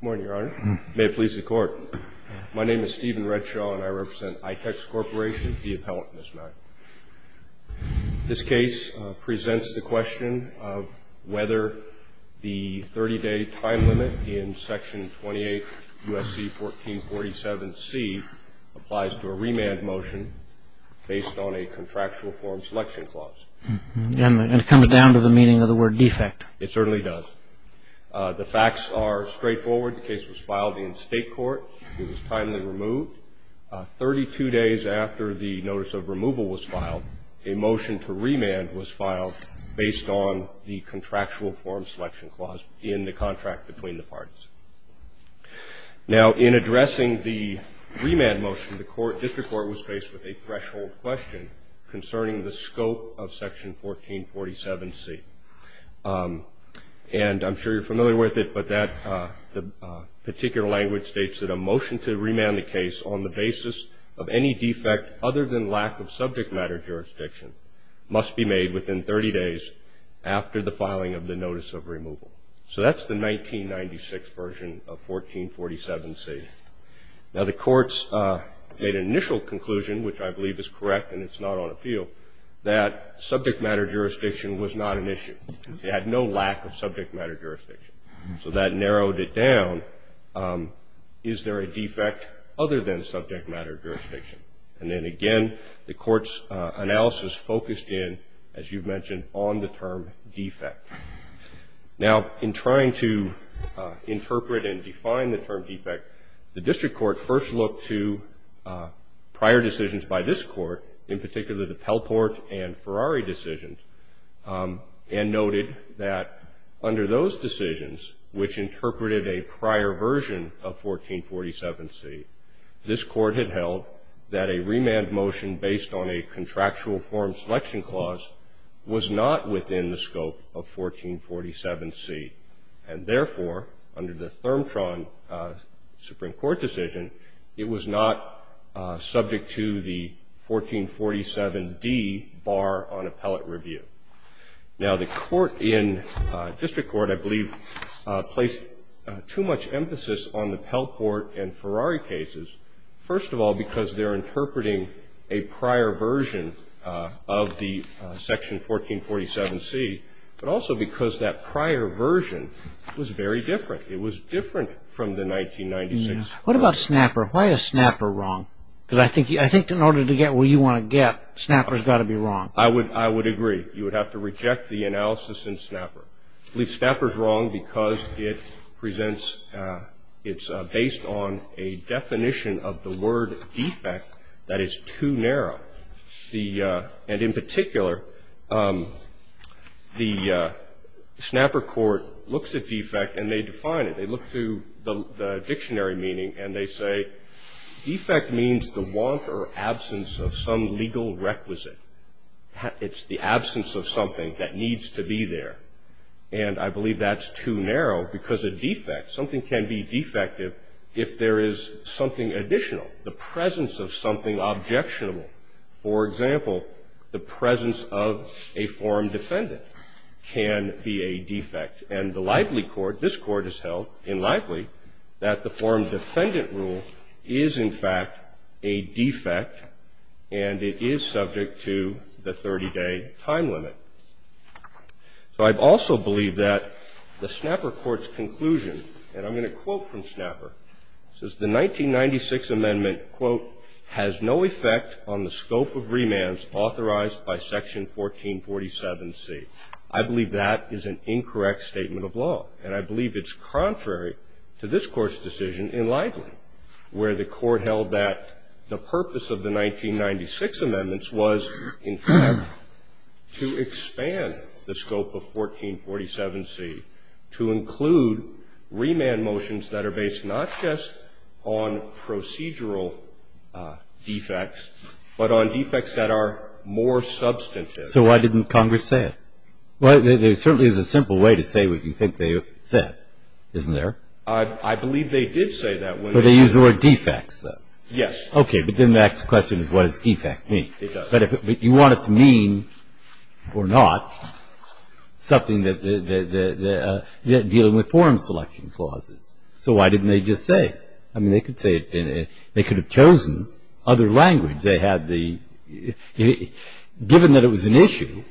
Good morning, Your Honor. May it please the Court. My name is Stephen Redshaw, and I represent Itex Corporation, the appellant, Ms. Mack. This case presents the question of whether the 30-day time limit in Section 28 U.S.C. 1447C applies to a remand motion based on a contractual form selection clause. And it comes down to the meaning of the word defect. It certainly does. The facts are straightforward. The case was filed in state court. It was timely removed. Thirty-two days after the notice of removal was filed, a motion to remand was filed based on the contractual form selection clause in the contract between the parties. Now, in addressing the remand motion, the District Court was faced with a threshold question concerning the scope of Section 1447C. And I'm sure you're familiar with it, but that particular language states that a motion to remand the case on the basis of any defect other than lack of subject matter jurisdiction must be made within 30 days after the filing of the notice of removal. So that's the 1996 version of 1447C. Now, the courts made an initial conclusion, which I believe is correct and it's not on appeal, that subject matter jurisdiction was not an issue. It had no lack of subject matter jurisdiction. So that narrowed it down. Is there a defect other than subject matter jurisdiction? And then again, the court's analysis focused in, as you've mentioned, on the term defect. Now, in trying to interpret and define the term defect, the District Court first looked to prior decisions by this Court, in particular the Pelport and Ferrari decisions, and noted that under those decisions, which interpreted a prior version of 1447C, this Court had held that a remand motion based on a contractual form selection clause was not within the scope of 1447C. And therefore, under the Thermtron Supreme Court decision, it was not subject to the 1447D bar on appellate review. Now, the court in District Court, I believe, placed too much emphasis on the Pelport and Ferrari cases, first of all because they're interpreting a prior version of the section 1447C, but also because that prior version was very different. It was different from the 1996 version. What about Snapper? Why is Snapper wrong? Because I think in order to get where you want to get, Snapper's got to be wrong. I would agree. You would have to reject the analysis in Snapper. I believe Snapper's wrong because it presents, it's based on a definition of the word defect that is too narrow. And in particular, the Snapper court looks at defect and they define it. They look through the dictionary meaning and they say, defect means the want or absence of some legal requisite. It's the absence of something that needs to be there. And I believe that's too narrow because a defect, something can be defective if there is something additional, the presence of something objectionable. For example, the presence of a forum defendant can be a defect. And the Lively court, this court has held in Lively, that the forum defendant rule is in fact a defect and it is subject to the 30-day time limit. So I also believe that the Snapper court's conclusion, and I'm going to quote from Snapper. It says, The 1996 amendment, quote, has no effect on the scope of remands authorized by section 1447C. I believe that is an incorrect statement of law. And I believe it's contrary to this Court's decision in Lively, where the Court held that the purpose of the 1996 amendments was, in fact, to expand the scope of 1447C to include remand motions that are based not just on procedural defects, but on defects that are more substantive. So why didn't Congress say it? Well, there certainly is a simple way to say what you think they said, isn't there? I believe they did say that. But they use the word defects, though. Yes. Okay. But then the next question is what does defect mean? It does. But you want it to mean, or not, something that the ñ dealing with forum selection clauses. So why didn't they just say? I mean, they could say it in a ñ they could have chosen other language. They had the ñ given that it was an issue,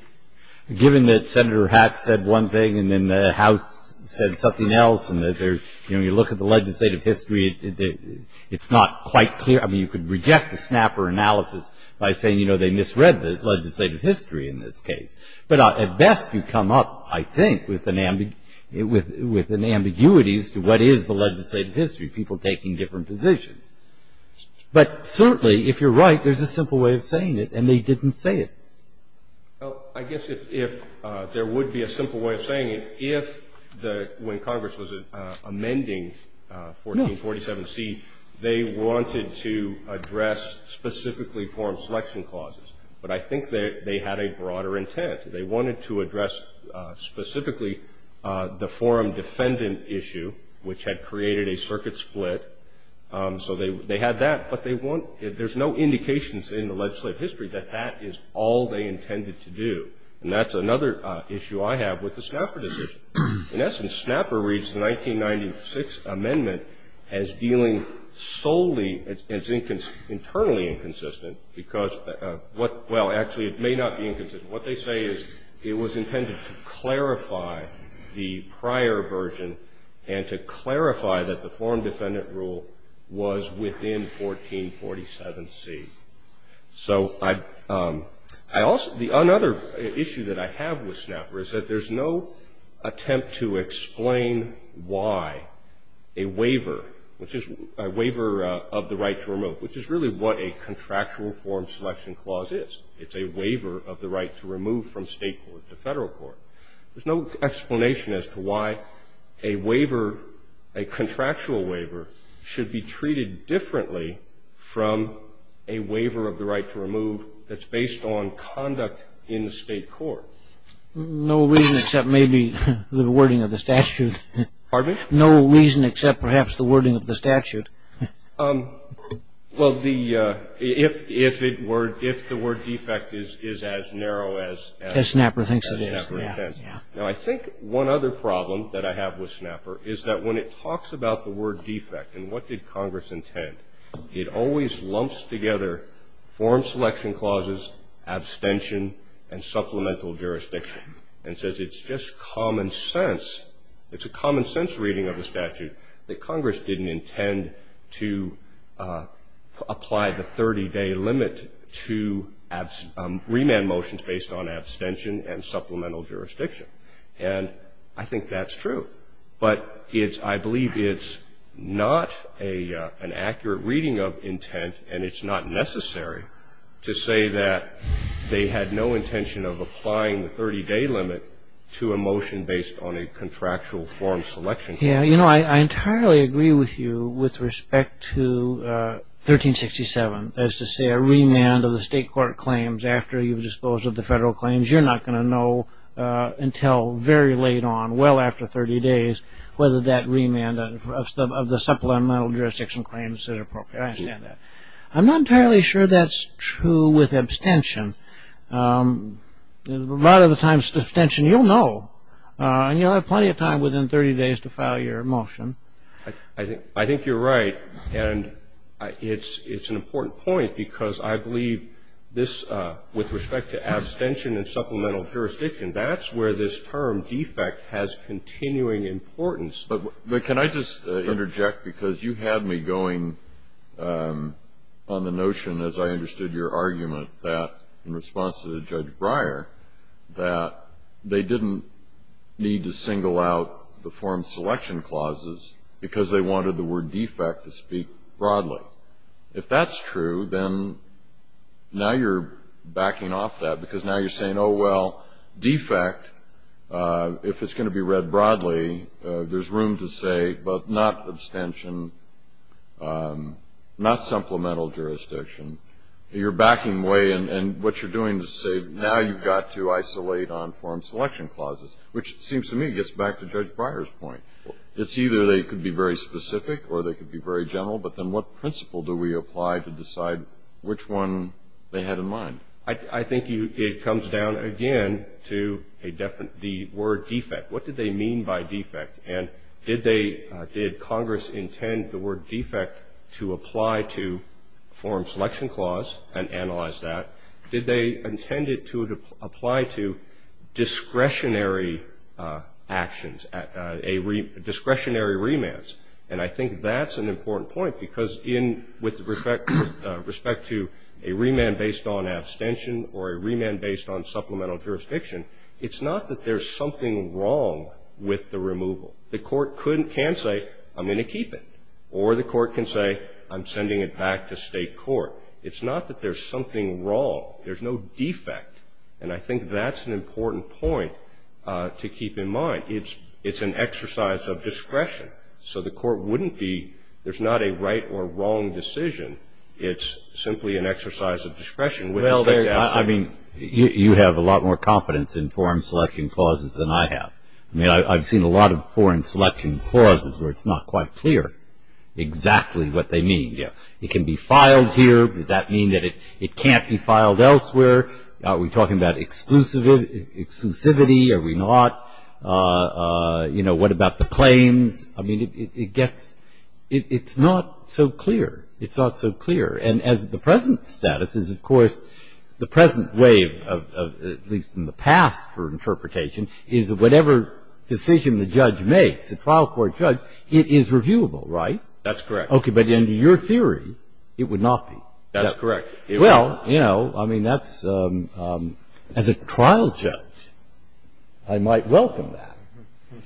given that Senator Hatch said one thing and then the House said something else and that they're ñ you know, you look at the legislative history, it's not quite clear. I mean, you could reject the snapper analysis by saying, you know, they misread the legislative history in this case. But at best, you come up, I think, with an ambiguity as to what is the legislative history, people taking different positions. But certainly, if you're right, there's a simple way of saying it, and they didn't say it. Well, I guess if there would be a simple way of saying it, if the ñ when Congress was amending 1447C, they wanted to address specifically forum selection clauses. But I think they had a broader intent. They wanted to address specifically the forum defendant issue, which had created a circuit split. So they had that. But they want ñ there's no indications in the legislative history that that is all they intended to do. And that's another issue I have with the snapper decision. In essence, snapper reads the 1996 amendment as dealing solely as internally inconsistent because what ñ well, actually, it may not be inconsistent. What they say is it was intended to clarify the prior version and to clarify that the 1447C. So I also ñ another issue that I have with snapper is that there's no attempt to explain why a waiver, which is a waiver of the right to remove, which is really what a contractual forum selection clause is. It's a waiver of the right to remove from state court to federal court. There's no explanation as to why a waiver, a contractual waiver, should be treated differently from a waiver of the right to remove that's based on conduct in the state court. No reason except maybe the wording of the statute. Pardon me? No reason except perhaps the wording of the statute. Well, the ñ if it were ñ if the word defect is as narrow as ñ As snapper thinks it is. As snapper intends. Yeah, yeah. Now, I think one other problem that I have with snapper is that when it talks about the It always lumps together forum selection clauses, abstention, and supplemental jurisdiction, and says it's just common sense. It's a common sense reading of the statute that Congress didn't intend to apply the 30-day limit to remand motions based on abstention and supplemental jurisdiction. And I think that's true. But it's ñ I believe it's not an accurate reading of intent, and it's not necessary to say that they had no intention of applying the 30-day limit to a motion based on a contractual forum selection clause. Yeah. You know, I entirely agree with you with respect to 1367, as to say a remand of the state court claims after you've disposed of the federal claims. You're not going to know until very late on, well after 30 days, whether that remand of the supplemental jurisdiction claims is appropriate. I understand that. I'm not entirely sure that's true with abstention. A lot of the times, abstention, you'll know. And you'll have plenty of time within 30 days to file your motion. I think you're right. And it's an important point, because I believe this, with respect to abstention and supplemental jurisdiction, that's where this term, defect, has continuing importance. But can I just interject, because you had me going on the notion, as I understood your argument, that in response to Judge Breyer, that they didn't need to single out the forum selection clauses, because they wanted the word defect to speak broadly. If that's true, then now you're backing off that, because now you're saying, oh, well, defect, if it's going to be read broadly, there's room to say, but not abstention, not supplemental jurisdiction. You're backing away, and what you're doing is saying, now you've got to isolate on forum selection clauses. Which, it seems to me, gets back to Judge Breyer's point. It's either they could be very specific or they could be very general, but then what principle do we apply to decide which one they had in mind? I think it comes down, again, to the word defect. What did they mean by defect? And did Congress intend the word defect to apply to forum selection clause and analyze that? Did they intend it to apply to discretionary actions, discretionary remands? And I think that's an important point, because with respect to a remand based on abstention or a remand based on supplemental jurisdiction, it's not that there's something wrong with the removal. The court can say, I'm going to keep it, or the court can say, I'm sending it back to state court. It's not that there's something wrong. There's no defect. And I think that's an important point to keep in mind. It's an exercise of discretion. So the court wouldn't be, there's not a right or wrong decision. It's simply an exercise of discretion. Well, I mean, you have a lot more confidence in forum selection clauses than I have. I mean, I've seen a lot of forum selection clauses where it's not quite clear exactly what they mean. Yeah. It can be filed here. Does that mean that it can't be filed elsewhere? Are we talking about exclusivity? Are we not? You know, what about the claims? I mean, it gets, it's not so clear. It's not so clear. And as the present status is, of course, the present way of, at least in the past for interpretation, is whatever decision the judge makes, the trial court judge, it is reviewable, right? That's correct. Okay. But under your theory, it would not be. That's correct. Well, you know, I mean, that's, as a trial judge, I might welcome that.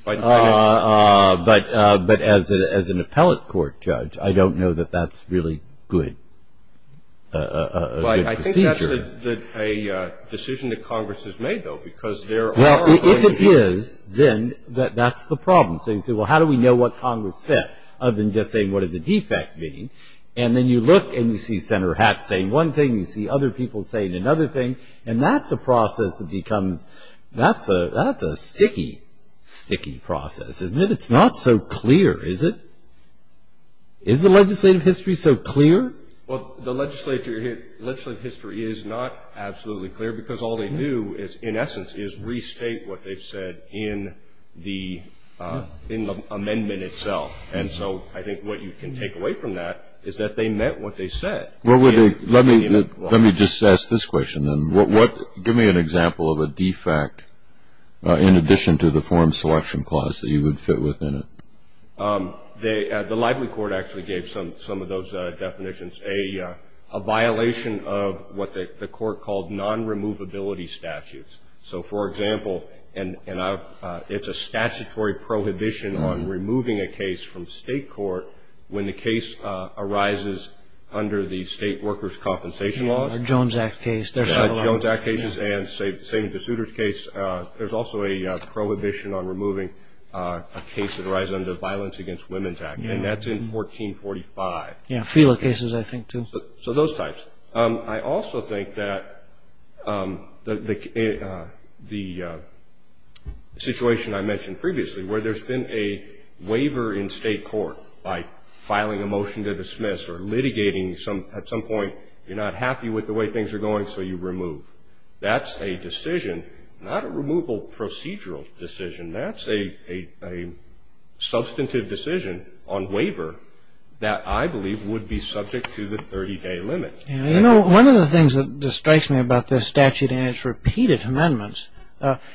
But as an appellate court judge, I don't know that that's really good, a good procedure. But I think that's a decision that Congress has made, though, because there are other issues. Well, if it is, then that's the problem. So you say, well, how do we know what Congress said? Other than just saying, what does a defect mean? And then you look and you see Senator Hatch saying one thing, you see other people saying another thing. And that's a process that becomes, that's a sticky, sticky process, isn't it? It's not so clear, is it? Is the legislative history so clear? Well, the legislative history is not absolutely clear because all they do is, in essence, is restate what they've said in the amendment itself. And so I think what you can take away from that is that they meant what they said. Let me just ask this question, then. Give me an example of a defect in addition to the form selection clause that you would fit within it. The Lively Court actually gave some of those definitions, a violation of what the court called non-removability statutes. So, for example, it's a statutory prohibition on removing a case from state court when the case arises under the State Workers' Compensation Law. The Jones Act case. There's several of them. The Jones Act case and the Saving the Suitors case. There's also a prohibition on removing a case that arises under the Violence Against Women's Act, and that's in 1445. Yeah, Fela cases, I think, too. So those types. I also think that the situation I mentioned previously, where there's been a waiver in state court by filing a motion to dismiss or litigating at some point, you're not happy with the way things are going, so you remove. That's a decision, not a removal procedural decision. That's a substantive decision on waiver that I believe would be subject to the 30-day limit. You know, one of the things that strikes me about this statute and its repeated amendments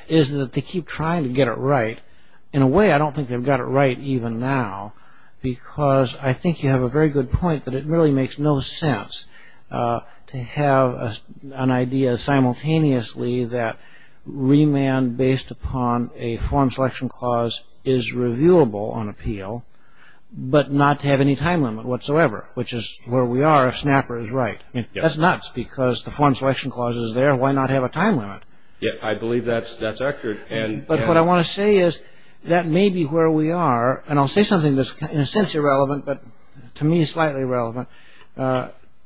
is that they keep trying to get it right. In a way, I don't think they've got it right even now, because I think you have a very good point that it really makes no sense to have an idea simultaneously that remand based upon a form selection clause is reviewable on appeal, but not to have any time limit whatsoever, which is where we are if Snapper is right. That's nuts, because the form selection clause is there. Why not have a time limit? Yeah, I believe that's accurate. But what I want to say is that may be where we are, and I'll say something that's in a sense irrelevant, but to me slightly relevant.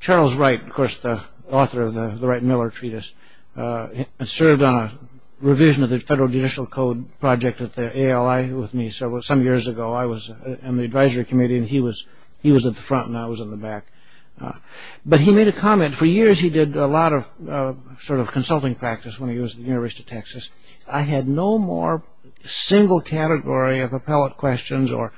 Charles Wright, of course, the author of the Wright-Miller Treatise, served on a revision of the Federal Judicial Code project at the ALI with me some years ago. I was on the advisory committee, and he was at the front, and I was in the back. But he made a comment. For years, he did a lot of sort of consulting practice when he was at the University of Texas. I had no more single category of appellate questions or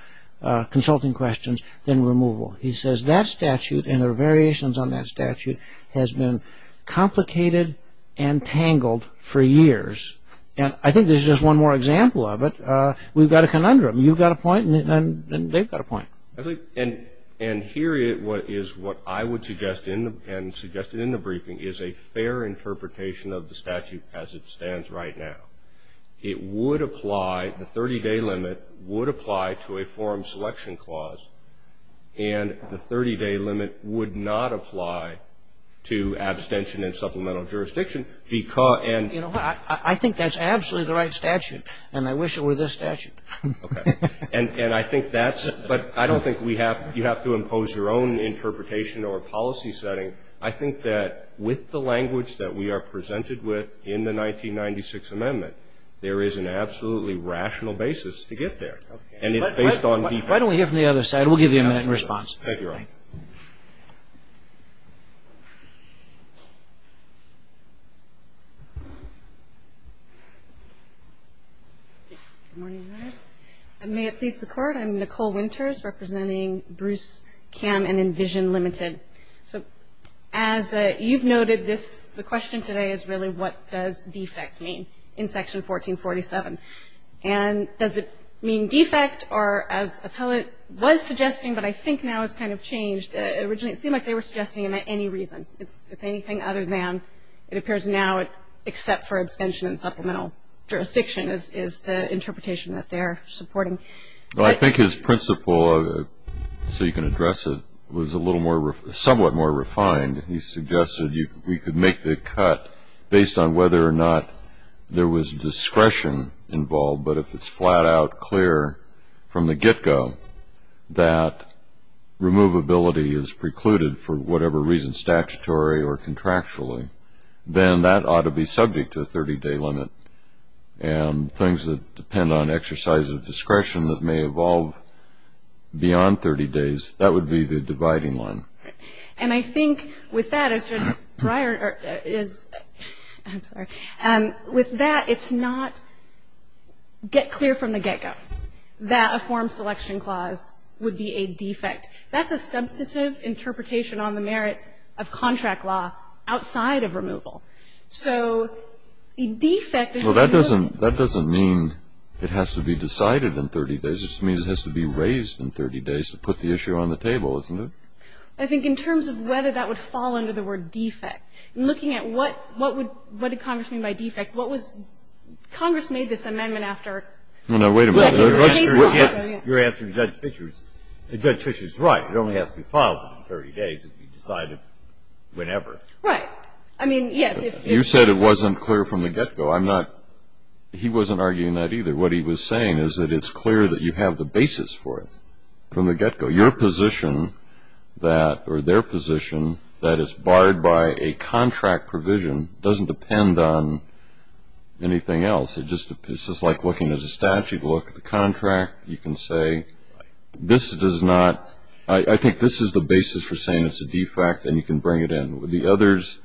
consulting questions than removal. He says that statute and the variations on that statute has been complicated and tangled for years. And I think this is just one more example of it. We've got a conundrum. You've got a point, and they've got a point. And here is what I would suggest, and suggested in the briefing, is a fair interpretation of the statute as it stands right now. It would apply, the 30-day limit would apply to a forum selection clause, and the 30-day limit would not apply to abstention and supplemental jurisdiction. I think that's absolutely the right statute, and I wish it were this statute. Okay. And I think that's – but I don't think we have – you have to impose your own interpretation or policy setting. I think that with the language that we are presented with in the 1996 amendment, there is an absolutely rational basis to get there, and it's based on defense. Why don't we hear from the other side? Thank you, Ron. Good morning. May it please the Court? I'm Nicole Winters, representing Bruce Kamm and Envision Limited. So as you've noted, this – the question today is really, what does defect mean in Section 1447? And does it mean defect or, as Appellate was suggesting but I think now has kind of changed, originally it seemed like they were suggesting it meant any reason. It's anything other than it appears now except for abstention and supplemental jurisdiction is the interpretation that they're supporting. Well, I think his principle, so you can address it, was a little more – somewhat more refined. He suggested we could make the cut based on whether or not there was discretion involved, but if it's flat out clear from the get-go that removability is precluded for whatever reason, statutory or contractually, then that ought to be subject to a 30-day limit. And things that depend on exercise of discretion that may evolve beyond 30 days, that would be the dividing line. And I think with that, as Judge Breyer is – I'm sorry. With that, it's not get clear from the get-go that a form selection clause would be a defect. That's a substantive interpretation on the merits of contract law outside of removal. So the defect is the removal. Well, that doesn't mean it has to be decided in 30 days. It just means it has to be raised in 30 days to put the issue on the table, isn't it? I think in terms of whether that would fall under the word defect, looking at what would – what did Congress mean by defect? What was – Congress made this amendment after – Well, now, wait a minute. Your answer to Judge Fischer is right. It only has to be filed within 30 days if you decide it whenever. Right. I mean, yes, if – You said it wasn't clear from the get-go. I'm not – he wasn't arguing that either. What he was saying is that it's clear that you have the basis for it from the get-go. Your position that – or their position that it's barred by a contract provision doesn't depend on anything else. It just – it's just like looking at a statute. Look at the contract. You can say this does not – I think this is the basis for saying it's a defect, and you can bring it in. The others,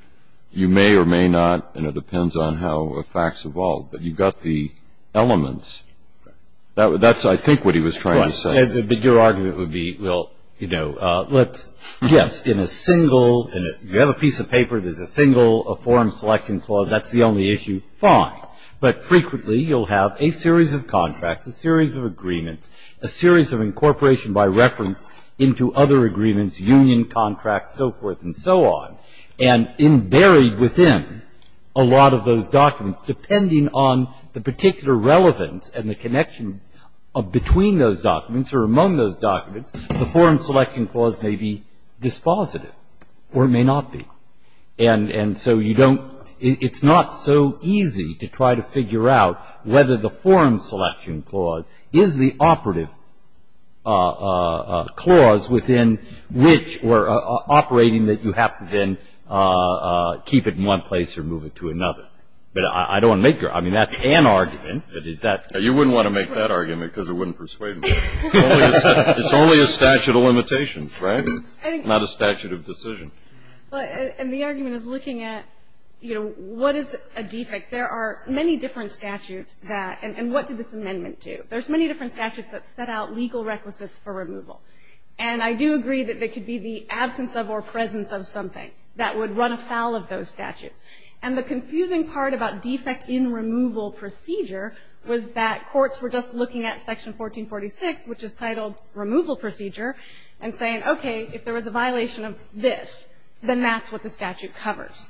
you may or may not, and it depends on how facts evolve. But you've got the elements. That's, I think, what he was trying to say. But your argument would be, well, you know, let's – yes, in a single – you have a piece of paper, there's a single forum selection clause, that's the only issue, fine. But frequently you'll have a series of contracts, a series of agreements, a series of incorporation by reference into other agreements, union contracts, so forth and so on. And buried within a lot of those documents, depending on the particular relevance and the connection between those documents or among those documents, the forum selection clause may be dispositive or it may not be. And so you don't – it's not so easy to try to figure out whether the forum selection clause is the operative clause within which – or operating that you have to then keep it in one place or move it to another. But I don't make – I mean, that's an argument, but is that – You wouldn't want to make that argument because it wouldn't persuade me. It's only a statute of limitations, right? Not a statute of decision. And the argument is looking at, you know, what is a defect? There are many different statutes that – and what did this amendment do? There's many different statutes that set out legal requisites for removal. And I do agree that they could be the absence of or presence of something that would run afoul of those statutes. And the confusing part about defect in removal procedure was that courts were just looking at Section 1446, which is titled Removal Procedure, and saying, okay, if there was a violation of this, then that's what the statute covers.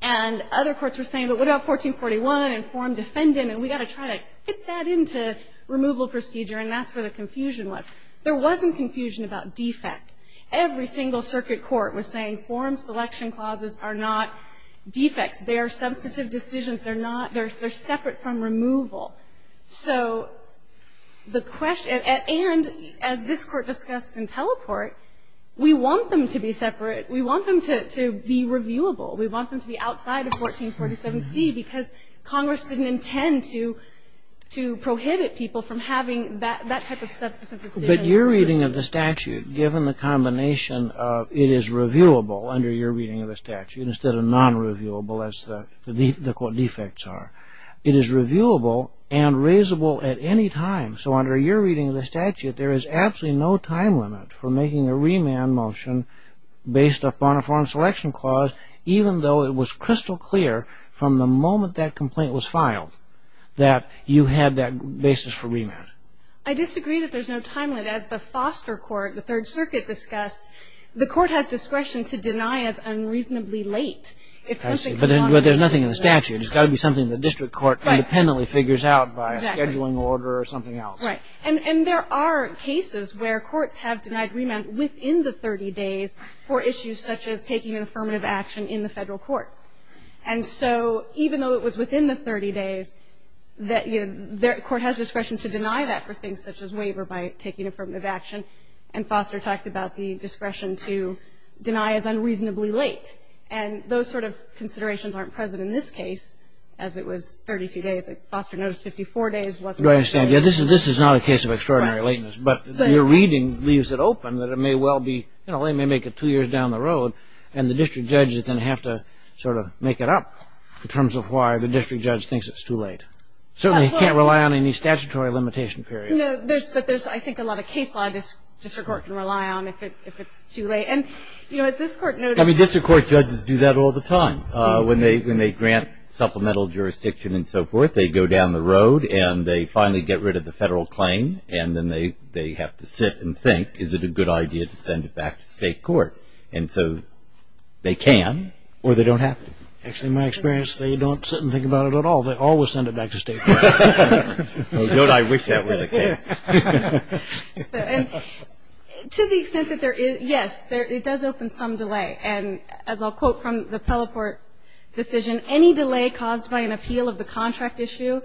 And other courts were saying, but what about 1441 and forum defendant, and we've got to try to fit that into removal procedure, and that's where the confusion was. There wasn't confusion about defect. Every single circuit court was saying forum selection clauses are not defects. They are substantive decisions. They're not – they're separate from removal. So the question – and as this Court discussed in Teleport, we want them to be separate. We want them to be reviewable. We want them to be outside of 1447C because Congress didn't intend to prohibit people from having that type of substantive decision. But your reading of the statute, given the combination of it is reviewable, under your reading of the statute, instead of non-reviewable as the defects are, it is reviewable and raisable at any time. So under your reading of the statute, there is absolutely no time limit for making a remand motion based upon a forum selection clause, even though it was crystal clear from the moment that complaint was filed that you had that basis for remand. I disagree that there's no time limit. As the Foster Court, the Third Circuit discussed, the Court has discretion to deny as unreasonably late. But there's nothing in the statute. It's got to be something the district court independently figures out by scheduling order or something else. Right. And there are cases where courts have denied remand within the 30 days for issues such as taking an affirmative action in the federal court. And so even though it was within the 30 days, the Court has discretion to deny that for things such as waiver by taking affirmative action. And Foster talked about the discretion to deny as unreasonably late. And those sort of considerations aren't present in this case, as it was 30-few days. Foster noticed 54 days. Do I understand? This is not a case of extraordinary lateness. But your reading leaves it open that it may well be, you know, they may make it two years down the road, and the district judge is going to have to sort of make it up in terms of why the district judge thinks it's too late. Certainly he can't rely on any statutory limitation period. No, but there's, I think, a lot of case law the district court can rely on if it's too late. And, you know, at this court notice. I mean, district court judges do that all the time. When they grant supplemental jurisdiction and so forth, they go down the road and they finally get rid of the federal claim. And then they have to sit and think, is it a good idea to send it back to state court? And so they can or they don't have to. Actually, in my experience, they don't sit and think about it at all. They always send it back to state court. I wish that were the case. To the extent that there is, yes, it does open some delay. And as I'll quote from the Pelleport decision, any delay caused by an appeal of the contract issue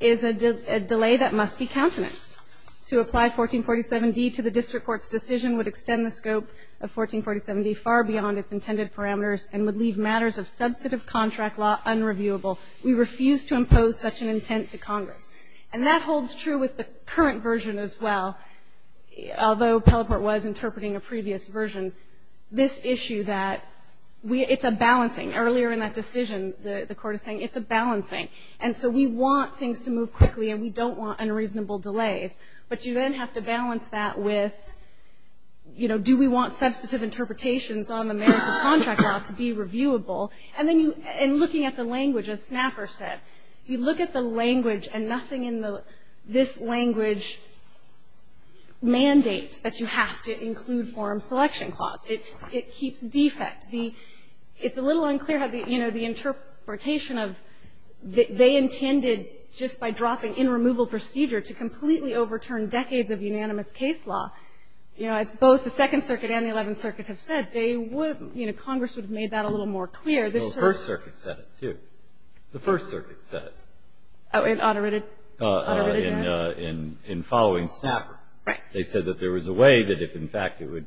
is a delay that must be countenanced. To apply 1447D to the district court's decision would extend the scope of 1447D far beyond its intended parameters and would leave matters of substantive contract law unreviewable. We refuse to impose such an intent to Congress. And that holds true with the current version as well, although Pelleport was interpreting a previous version. This issue that it's a balancing. Earlier in that decision, the Court is saying it's a balancing. And so we want things to move quickly and we don't want unreasonable delays. But you then have to balance that with, you know, do we want substantive interpretations on the merits of contract law to be reviewable? And looking at the language, as Snapper said, you look at the language and nothing in this language mandates that you have to include forum selection clause. It keeps defect. It's a little unclear how the, you know, the interpretation of they intended just by dropping in removal procedure to completely overturn decades of unanimous case law, you know, as both the Second Circuit and the Eleventh Circuit have said, they would, you know, Congress would have made that a little more clear. The First Circuit said it, too. The First Circuit said it. Oh, in underwritten? In following Snapper. Right. They said that there was a way that if, in fact, it would,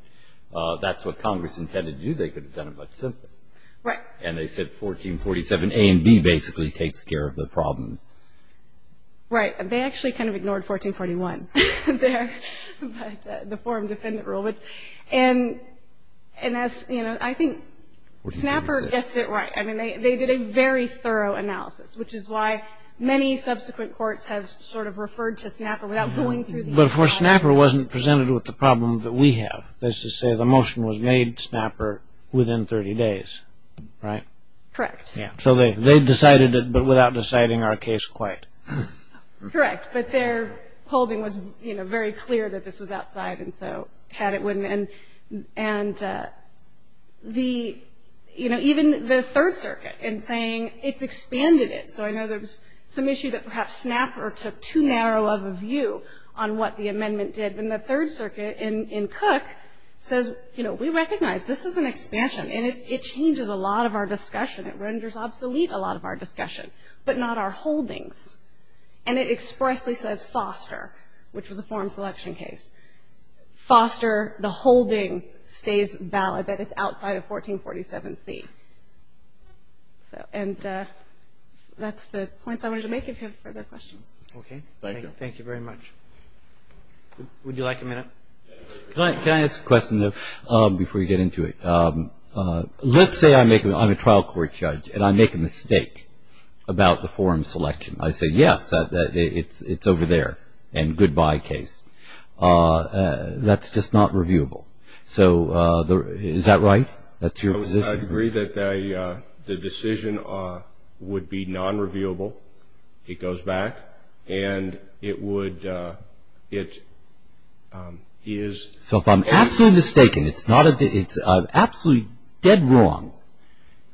that's what Congress intended to do, they could have done it much simpler. Right. And they said 1447 A and B basically takes care of the problems. Right. They actually kind of ignored 1441 there, the forum defendant rule. And, you know, I think Snapper gets it right. I mean, they did a very thorough analysis, which is why many subsequent courts have sort of referred to Snapper without going through the entire process. But, of course, Snapper wasn't presented with the problem that we have. That is to say, the motion was made, Snapper, within 30 days, right? Correct. So they decided it, but without deciding our case quite. Correct. But their holding was, you know, very clear that this was outside, and so had it when, and the, you know, even the Third Circuit in saying it's expanded it. So I know there was some issue that perhaps Snapper took too narrow of a view on what the amendment did. And the Third Circuit in Cook says, you know, we recognize this is an expansion, and it changes a lot of our discussion. It renders obsolete a lot of our discussion, but not our holdings. And it expressly says Foster, which was a forum selection case. Foster, the holding, stays valid, that it's outside of 1447C. And that's the points I wanted to make. If you have further questions. Okay. Thank you. Thank you very much. Would you like a minute? Can I ask a question, though, before you get into it? Let's say I make a, I'm a trial court judge, and I make a mistake about the forum selection. I say, yes, it's over there, and goodbye case. That's just not reviewable. So is that right? That's your position? I would agree that the decision would be non-reviewable. It goes back, and it would, it is. So if I'm absolutely mistaken, it's absolutely dead wrong,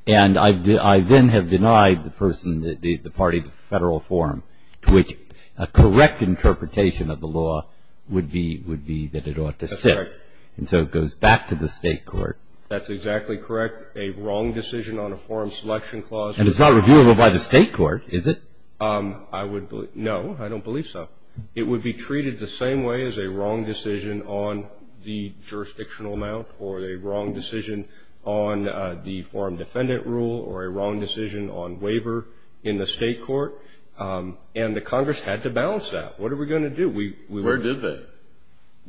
and I then have denied the person, the party, the federal forum, to which a correct interpretation of the law would be that it ought to sit. And so it goes back to the state court. That's exactly correct. A wrong decision on a forum selection clause. And it's not reviewable by the state court, is it? No, I don't believe so. It would be treated the same way as a wrong decision on the jurisdictional amount or a wrong decision on the forum defendant rule or a wrong decision on waiver in the state court. And the Congress had to balance that. What are we going to do? Where did they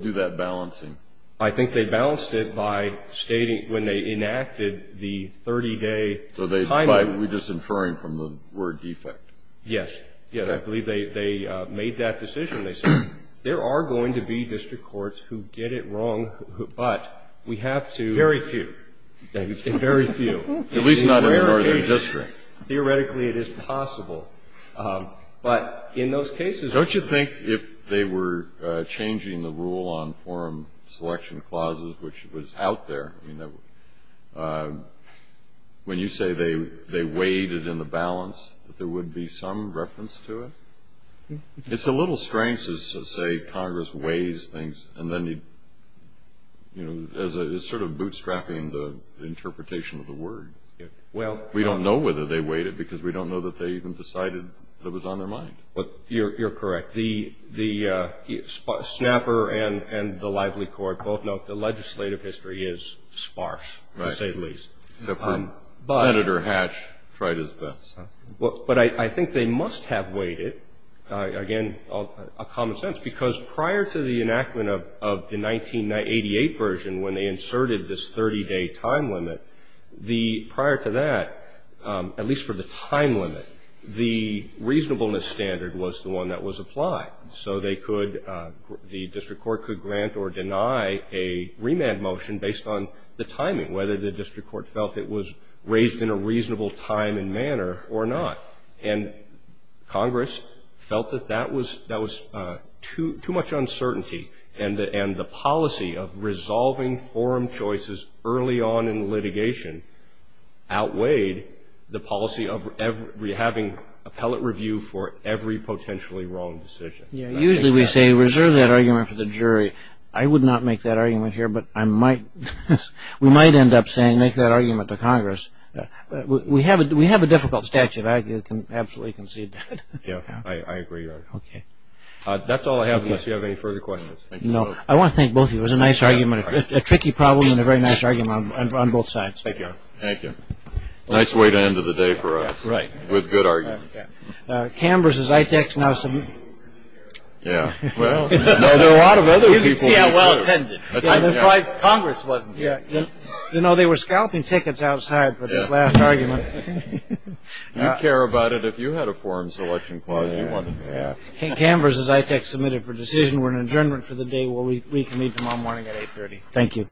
do that balancing? I think they balanced it by stating, when they enacted the 30-day timing. By just inferring from the word defect? Yes. I believe they made that decision. They said, there are going to be district courts who get it wrong, but we have to very few, very few. At least not in the northern district. Theoretically, it is possible. But in those cases. Don't you think if they were changing the rule on forum selection clauses, which was out there, when you say they weighed it in the balance, that there would be some reference to it? It's a little strange to say Congress weighs things and then is sort of bootstrapping the interpretation of the word. We don't know whether they weighed it because we don't know that they even decided it was on their mind. You're correct. The snapper and the lively court both note the legislative history is sparse, to say the least. Except for Senator Hatch tried his best. But I think they must have weighed it. Again, a common sense. Because prior to the enactment of the 1988 version, when they inserted this 30-day time limit, the prior to that, at least for the time limit, the reasonableness standard was the one that was applied. So they could, the district court could grant or deny a remand motion based on the timing, whether the district court felt it was raised in a reasonable time and manner or not. And Congress felt that that was too much uncertainty. And the policy of resolving forum choices early on in litigation outweighed the policy of having appellate review for every potentially wrong decision. Usually we say reserve that argument for the jury. I would not make that argument here, but I might. We might end up saying make that argument to Congress. We have a difficult statute. I can absolutely concede that. Yeah, I agree with that. That's all I have unless you have any further questions. No, I want to thank both of you. It was a nice argument, a tricky problem and a very nice argument on both sides. Thank you. Nice way to end the day for us. With good arguments. Cam versus Itech. Yeah. Well, there are a lot of other people. I'm surprised Congress wasn't here. You know, they were scalping tickets outside for this last argument. You care about it. If you had a forum selection clause you wanted to have. Cam versus Itech submitted for decision. We're in adjournment for the day. We'll reconvene tomorrow morning at 830. Thank you.